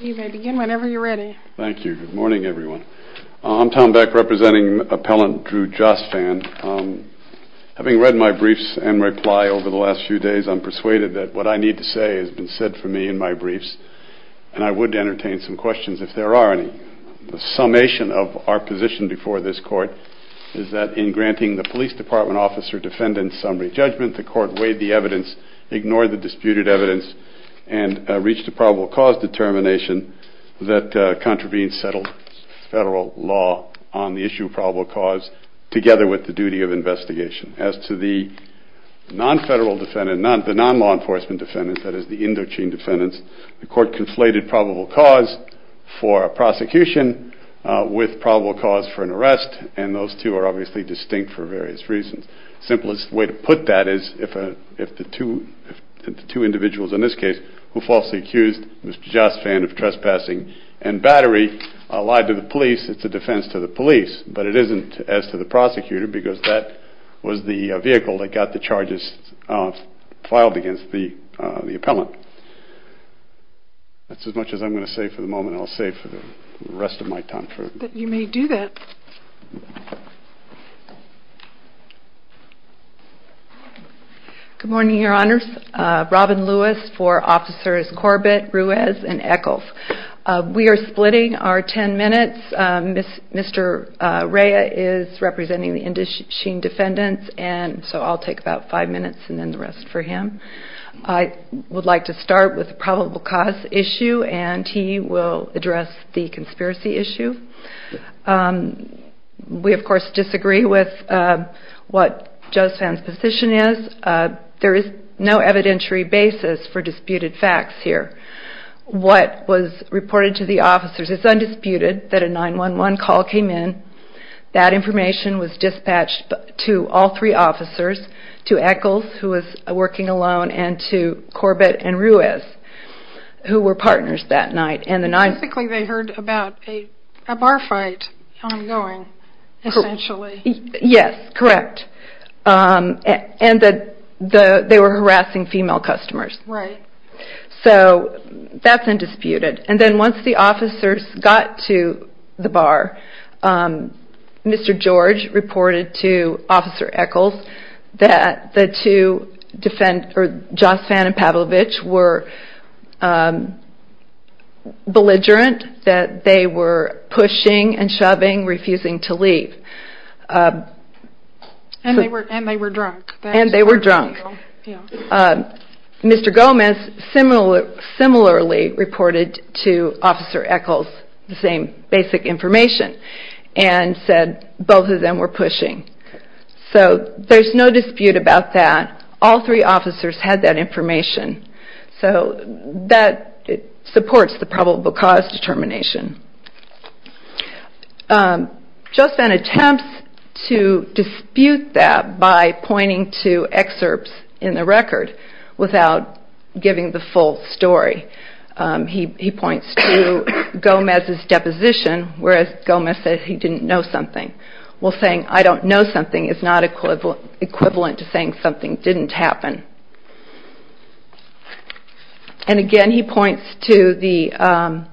Good morning everyone. I'm Tom Beck representing appellant Drew Josfan. Having read my briefs and reply over the last few days, I'm persuaded that what I need to say has been said for me in my briefs and I would entertain some questions if there are any. The summation of our position before this court is that in granting the police department officer defendant's summary judgment, the court weighed the evidence, ignored the disputed evidence, and reached a probable cause determination that contravenes federal law on the issue of probable cause together with the duty of investigation. As to the non-law enforcement defendants, that is the Indochine defendants, the court conflated probable cause for a prosecution with probable cause for an arrest and those two are obviously distinct for various reasons. The simplest way to put that is if the two individuals in this case who falsely accused Mr. Josfan of trespassing and battery lied to the police, it's a defense to the police but it isn't as to the prosecutor because that was the vehicle that got the charges filed against the appellant. That's as much as I'm going to say for the moment and I'll say for the rest of my time. Good morning, your honors. Robin Lewis for officers Corbett, Ruiz, and Echols. We are splitting our ten minutes. Mr. Rea is representing the Indochine defendants and so I'll take about five minutes and then the rest for him. I would like to start with the probable cause issue and he will address the conspiracy issue. We of course disagree with what Josfan's position is. There is no evidentiary basis for disputed facts here. What was reported to the officers is undisputed that a 911 call came in. That information was dispatched to all three officers, to Echols who was working alone and to Corbett and Ruiz who were partners that night. Basically they heard about a bar fight ongoing essentially. Yes, correct. And that they were harassing female customers. Right. So that's undisputed. And then once the officers got to the bar, Mr. George reported to Officer Echols that the two defendants, Josfan and Pavlovich, were belligerent, that they were pushing and shoving, refusing to leave. And they were drunk. And they were drunk. Mr. Gomez similarly reported to Officer Echols the same basic information and said both of them were pushing. So there's no dispute about that. All three officers had that information. So that supports the probable cause determination. Josfan attempts to dispute that by pointing to excerpts in the record without giving the full story. He points to Gomez's deposition where Gomez said he didn't know something. Well saying I don't know something is not equivalent to saying something didn't happen. And again he points to the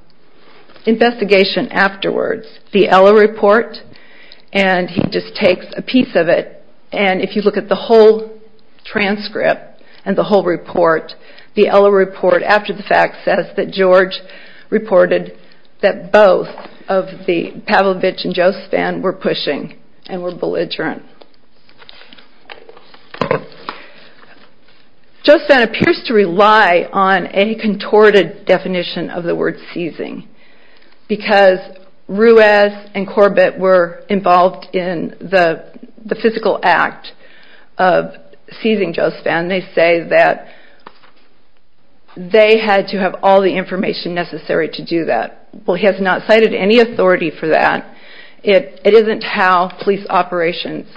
investigation afterwards. The Ella report and he just takes a piece of it and if you look at the whole transcript and the whole report, the Ella report after the fact says that George reported that both of the Pavlovich and Josfan were pushing and were belligerent. Josfan appears to rely on a contorted definition of the word seizing because Ruiz and Corbett were involved in the physical act of seizing Josfan. They say that they had to have all the information necessary to do that. Well he has not cited any authority for that. It isn't how police operations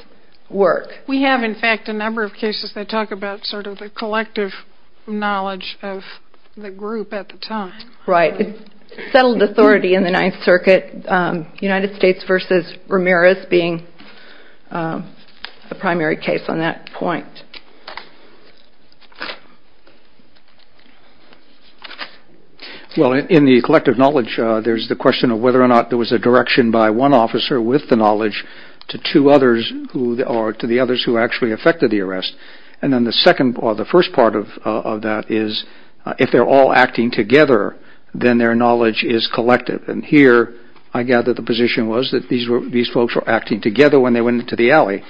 work. We have in fact a number of cases that talk about sort of the collective knowledge of the group at the time. Right. It's settled authority in the Ninth Circuit, United States versus Ramirez being the primary case on that point. Well in the collective knowledge there's the question of whether or not there was a direction by one officer with the knowledge to two others or to the others who actually affected the arrest and then the second or the first part of that is if they're all acting together then their knowledge is collective and here I gather the position was that these folks were acting together when they went into the alley.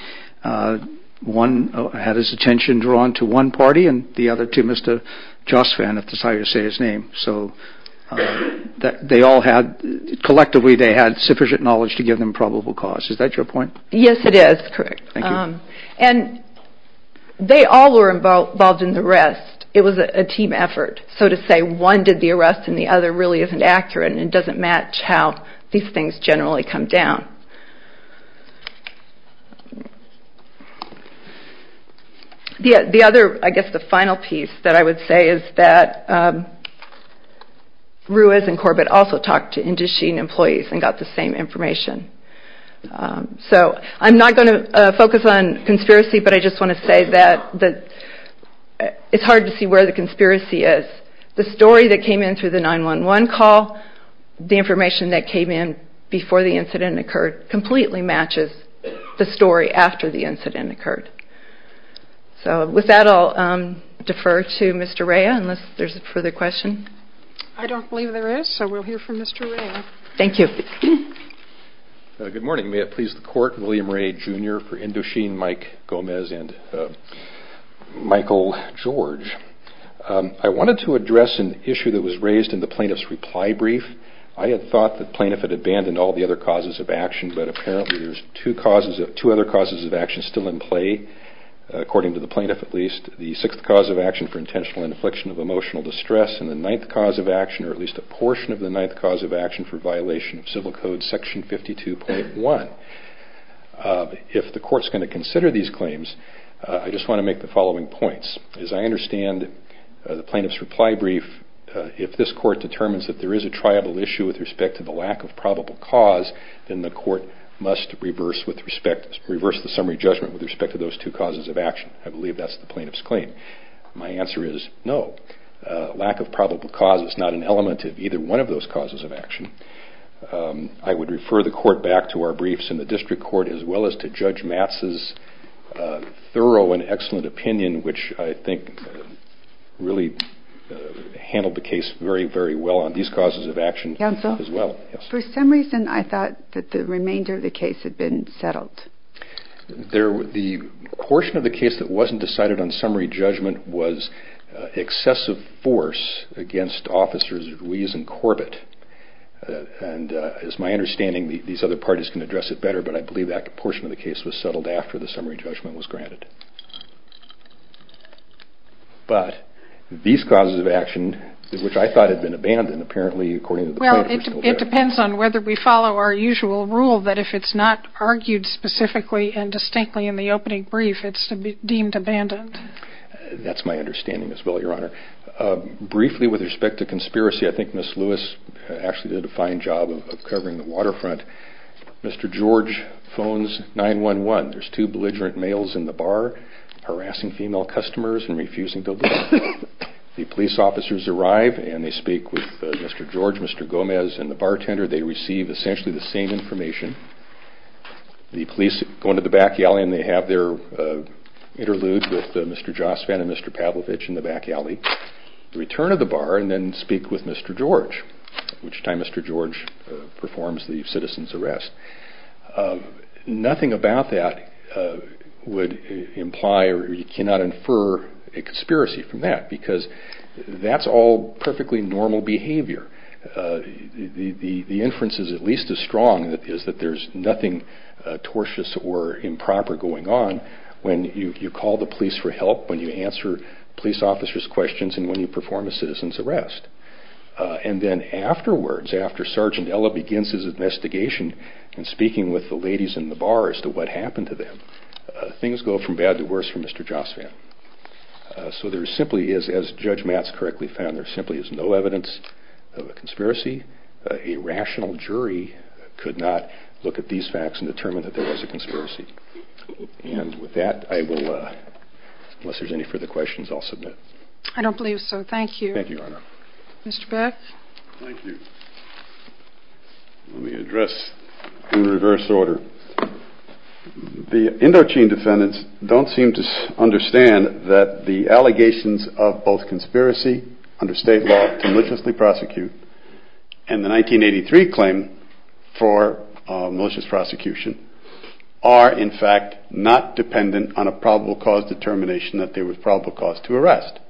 One had his attention drawn to one party and the other to Mr. Josfan if that's how you say his name. So they all had collectively they had sufficient knowledge to give them probable cause. Is that your point? Yes it is. And they all were involved in the arrest. It was a team effort so to say one did the arrest and the other really isn't accurate and doesn't match how these things generally come down. The other I guess the final piece that I would say is that Ruiz and Corbett also talked to Indus Sheen employees and got the same information. So I'm not going to focus on conspiracy but I just want to say that it's hard to see where the conspiracy is. The story that came in through the 9-1-1 call, the information that came in before the incident occurred. Completely matches the story after the incident occurred. So with that I'll defer to Mr. Rea unless there's a further question. I don't believe there is so we'll hear from Mr. Rea. Thank you. Good morning may it please the court William Rea Jr. for Indus Sheen, Mike Gomez and Michael George. I wanted to address an issue that was raised in the plaintiff's reply brief. I had thought the plaintiff had abandoned all the other causes of action. But apparently there's two other causes of action still in play according to the plaintiff at least. The 6th cause of action for intentional infliction of emotional distress and the 9th cause of action or at least a portion of the 9th cause of action for violation of civil code section 52.1. If the court is going to consider these claims I just want to make the following points. As I understand the plaintiff's reply brief if this court determines that there is a triable issue with respect to the lack of probable cause then the court must reverse the summary judgment with respect to those two causes of action. I believe that's the plaintiff's claim. My answer is no. Lack of probable cause is not an element of either one of those causes of action. I would refer the court back to our briefs in the district court as well as to Judge Matz's thorough and excellent opinion which I think really handled the case very very well on these causes of action as well. For some reason I thought that the remainder of the case had been settled. The portion of the case that wasn't decided on summary judgment was excessive force against officers Ruiz and Corbett. As my understanding these other parties can address it better but I believe that portion of the case was settled after the summary judgment was granted. It depends on whether we follow our usual rule that if it's not argued specifically and distinctly in the opening brief it's deemed abandoned. That's my understanding as well your honor. Briefly with respect to conspiracy I think Ms. Lewis actually did a fine job of covering the waterfront. Mr. George phones 911. There's two belligerent males in the bar harassing female customers and refusing to leave. The police officers arrive and they speak with Mr. George, Mr. Gomez and the bartender. They receive essentially the same information. The police go into the back alley and they have their interlude with Mr. Josvan and Mr. Pavlovich in the back alley. They return to the bar and then speak with Mr. George which time Mr. George performs the citizen's arrest. Nothing about that would imply or you cannot infer a conspiracy from that because that's all perfectly normal behavior. The inference is at least as strong that there's nothing tortious or improper going on when you call the police for help, when you answer police officers questions and when you perform a citizen's arrest. And then afterwards, after Sergeant Ella begins his investigation and speaking with the ladies in the bar as to what happened to them, things go from bad to worse for Mr. Josvan. So there simply is, as Judge Matz correctly found, there simply is no evidence of a conspiracy. A rational jury could not look at these facts and determine that there was a conspiracy. And with that I will, unless there's any further questions I'll submit. I don't believe so. Thank you. Thank you, Your Honor. Mr. Beck? Thank you. Let me address in reverse order. The Indochine defendants don't seem to understand that the allegations of both conspiracy under state law to maliciously prosecute and the 1983 claim for malicious prosecution are in fact not dependent on a probable cause determination that there was probable cause to arrest.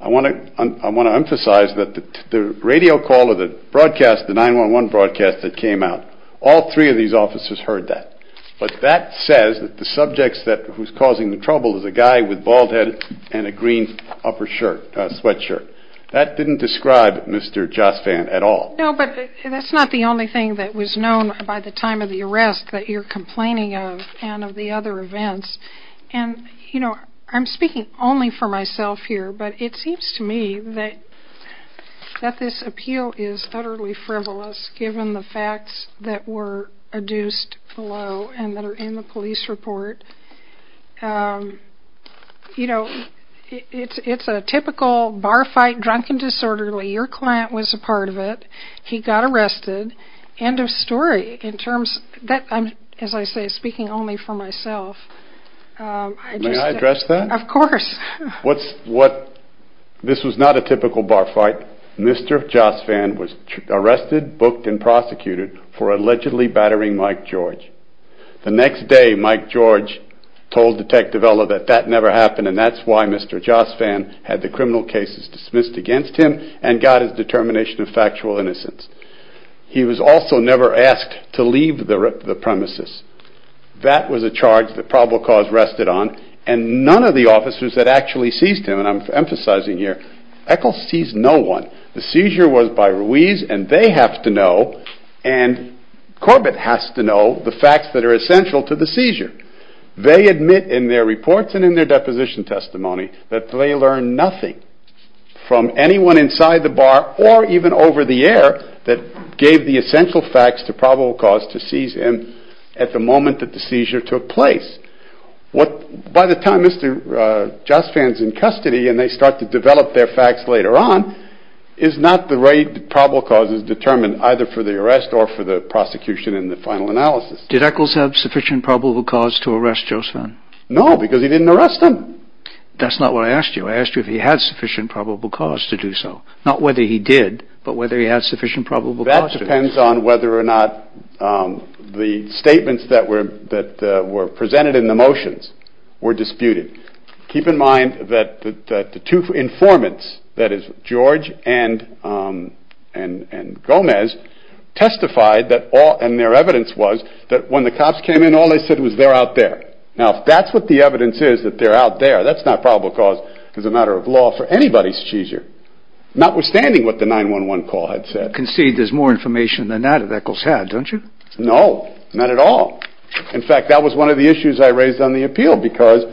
I want to emphasize that the radio call or the broadcast, the 911 broadcast that came out, all three of these officers heard that. But that says that the subjects that who's causing the trouble is a guy with bald head and a green upper shirt, sweatshirt. That didn't describe Mr. Josvan at all. No, but that's not the only thing that was known by the time of the arrest that you're complaining of and of the other events. And, you know, I'm speaking only for myself here, but it seems to me that that this appeal is utterly frivolous given the facts that were adduced below and that are in the police report. You know, it's a typical bar fight, drunken disorderly. Your client was a part of it. He got arrested. End of story. In terms that I'm, as I say, speaking only for myself. May I address that? Of course. This was not a typical bar fight. Mr. Josvan was arrested, booked and prosecuted for allegedly battering Mike George. The next day Mike George told Detective Ella that that never happened and that's why Mr. Josvan had the criminal cases dismissed against him and got his determination of factual innocence. He was also never asked to leave the premises. That was a charge that probable cause rested on and none of the officers that actually seized him, and I'm emphasizing here, Echols seized no one. The seizure was by Ruiz and they have to know and Corbett has to know the facts that are essential to the seizure. They admit in their reports and in their deposition testimony that they learned nothing from anyone inside the bar or even over the air that gave the essential facts to probable cause to seize him at the moment that the seizure took place. By the time Mr. Josvan is in custody and they start to develop their facts later on is not the rate probable cause is determined either for the arrest or for the prosecution and the final analysis. Did Echols have sufficient probable cause to arrest Josvan? No, because he didn't arrest him. That's not what I asked you. I asked you if he had sufficient probable cause to do so. Not whether he did, but whether he had sufficient probable cause to do so. It depends on whether or not the statements that were presented in the motions were disputed. Keep in mind that the two informants, that is George and Gomez testified and their evidence was that when the cops came in all they said was they're out there. Now if that's what the evidence is that they're out there, that's not probable cause as a matter of law for anybody's seizure, notwithstanding what the 911 call had said. You concede there's more information than that that Echols had, don't you? No, not at all. In fact, that was one of the issues I raised on the appeal because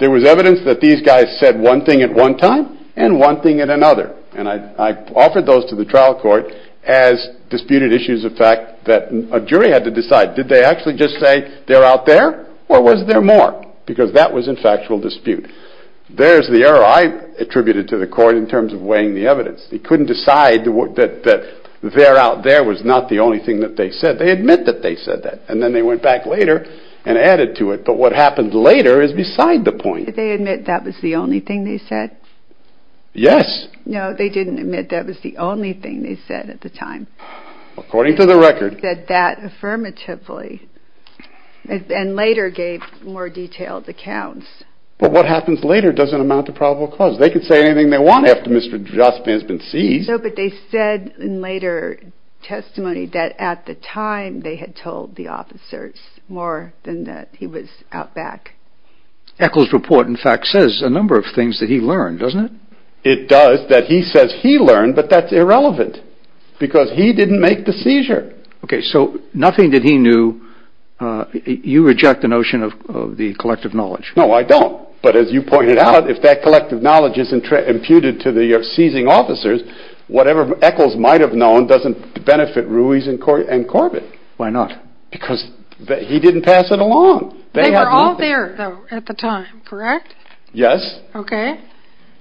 there was evidence that these guys said one thing at one time and one thing at another and I offered those to the trial court as disputed issues of fact that a jury had to decide did they actually just say they're out there or was there more because that was in factual dispute. There's the error I attributed to the court in terms of weighing the evidence. They couldn't decide that they're out there was not the only thing that they said. They admit that they said that and then they went back later and added to it, but what happened later is beside the point. Did they admit that was the only thing they said? Yes. No, they didn't admit that was the only thing they said at the time. According to the record. They said that affirmatively and later gave more detailed accounts. But what happens later doesn't amount to probable cause. They could say anything they want after Mr. Jospin has been seized. No, but they said in later testimony that at the time they had told the officers more than that he was out back. Echols report in fact says a number of things that he learned, doesn't it? It does that he says he learned, but that's irrelevant because he didn't make the seizure. Okay, so nothing that he knew. You reject the notion of the collective knowledge. No, I don't. But as you pointed out, if that collective knowledge is imputed to the seizing officers, whatever Echols might have known doesn't benefit Ruiz and Corbett. Why not? Because he didn't pass it along. They were all there at the time, correct? Yes. Okay.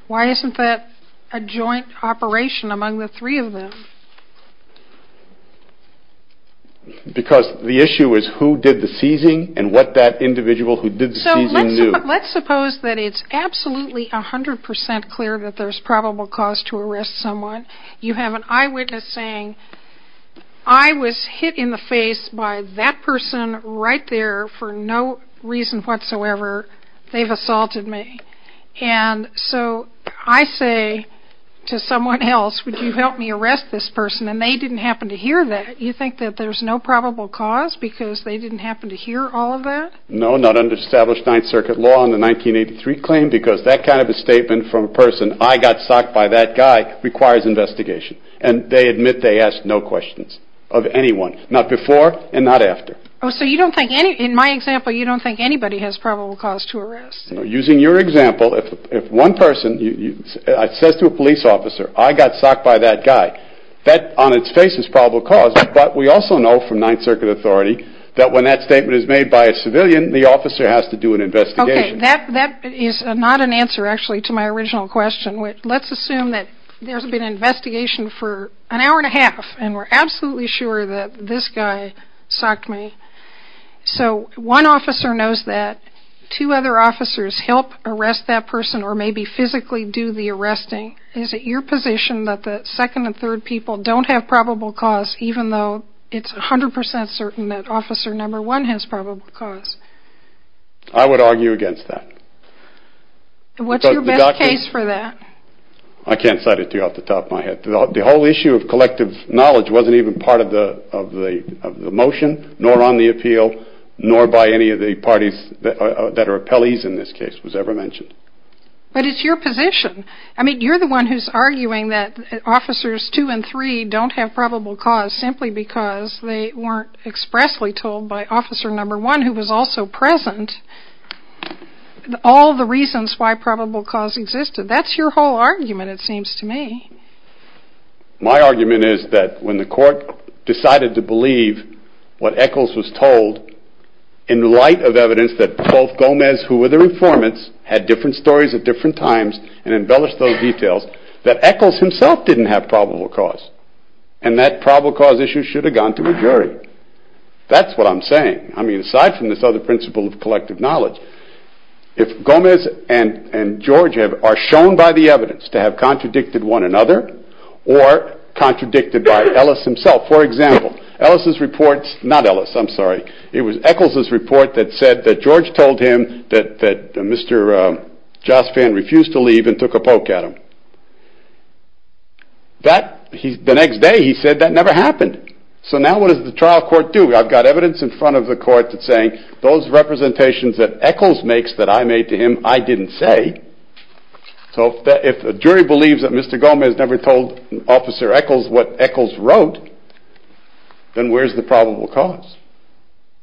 Why isn't that a joint operation among the three of them? Because the issue is who did the seizing and what that individual who did the seizing knew. Let's suppose that it's absolutely 100% clear that there's probable cause to arrest someone. You have an eyewitness saying, I was hit in the face by that person right there for no reason whatsoever. They've assaulted me. And so I say to someone else, would you help me arrest this person? And they didn't happen to hear that. You think that there's no probable cause because they didn't happen to hear all of that? No, not under established Ninth Circuit law in the 1983 claim, because that kind of a statement from a person, I got socked by that guy, requires investigation. And they admit they asked no questions of anyone. Not before and not after. Oh, so you don't think, in my example, you don't think anybody has probable cause to arrest? Using your example, if one person says to a police officer, I got socked by that guy, that on its face is probable cause. But we also know from Ninth Circuit authority that when that statement is made by a civilian, the officer has to do an investigation. Okay, that is not an answer actually to my original question. Let's assume that there's been an investigation for an hour and a half, and we're absolutely sure that this guy socked me. So one officer knows that. Two other officers help arrest that person, or maybe physically do the arresting. Is it your position that the second and third people don't have probable cause, even though it's 100% certain that officer number one has probable cause? I would argue against that. What's your best case for that? I can't cite it to you off the top of my head. The whole issue of collective knowledge wasn't even part of the motion, nor on the appeal, nor by any of the parties that are appellees in this case was ever mentioned. But it's your position. I mean, you're the one who's arguing that officers two and three don't have probable cause simply because they weren't expressly told by officer number one, who was also present, all the reasons why probable cause existed. That's your whole argument, it seems to me. My argument is that when the court decided to believe what Echols was told, in light of evidence that both Gomez, who were the informants, had different stories at different times, and embellished those details, that Echols himself didn't have probable cause. And that probable cause issue should have gone to a jury. That's what I'm saying. I mean, aside from this other principle of collective knowledge, if Gomez and George are shown by the evidence to have contradicted one another, or contradicted by Ellis himself. For example, Ellis's report, not Ellis, I'm sorry, it was Echols's report that said that George told him that Mr. Josphan refused to leave and took a poke at him. The next day he said that never happened. So now what does the trial court do? I've got evidence in front of the court that's saying those representations that Echols makes that I made to him, I didn't say. So if a jury believes that Mr. Gomez never told officer Echols what Echols wrote, then where's the probable cause?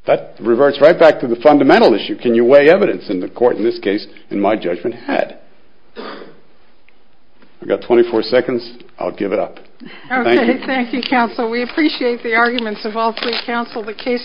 That reverts right back to the fundamental issue. Can you weigh evidence? And the court in this case, in my judgment, had. I've got 24 seconds. I'll give it up. Okay, thank you, counsel. We appreciate the arguments of all three counsel. The case is closed.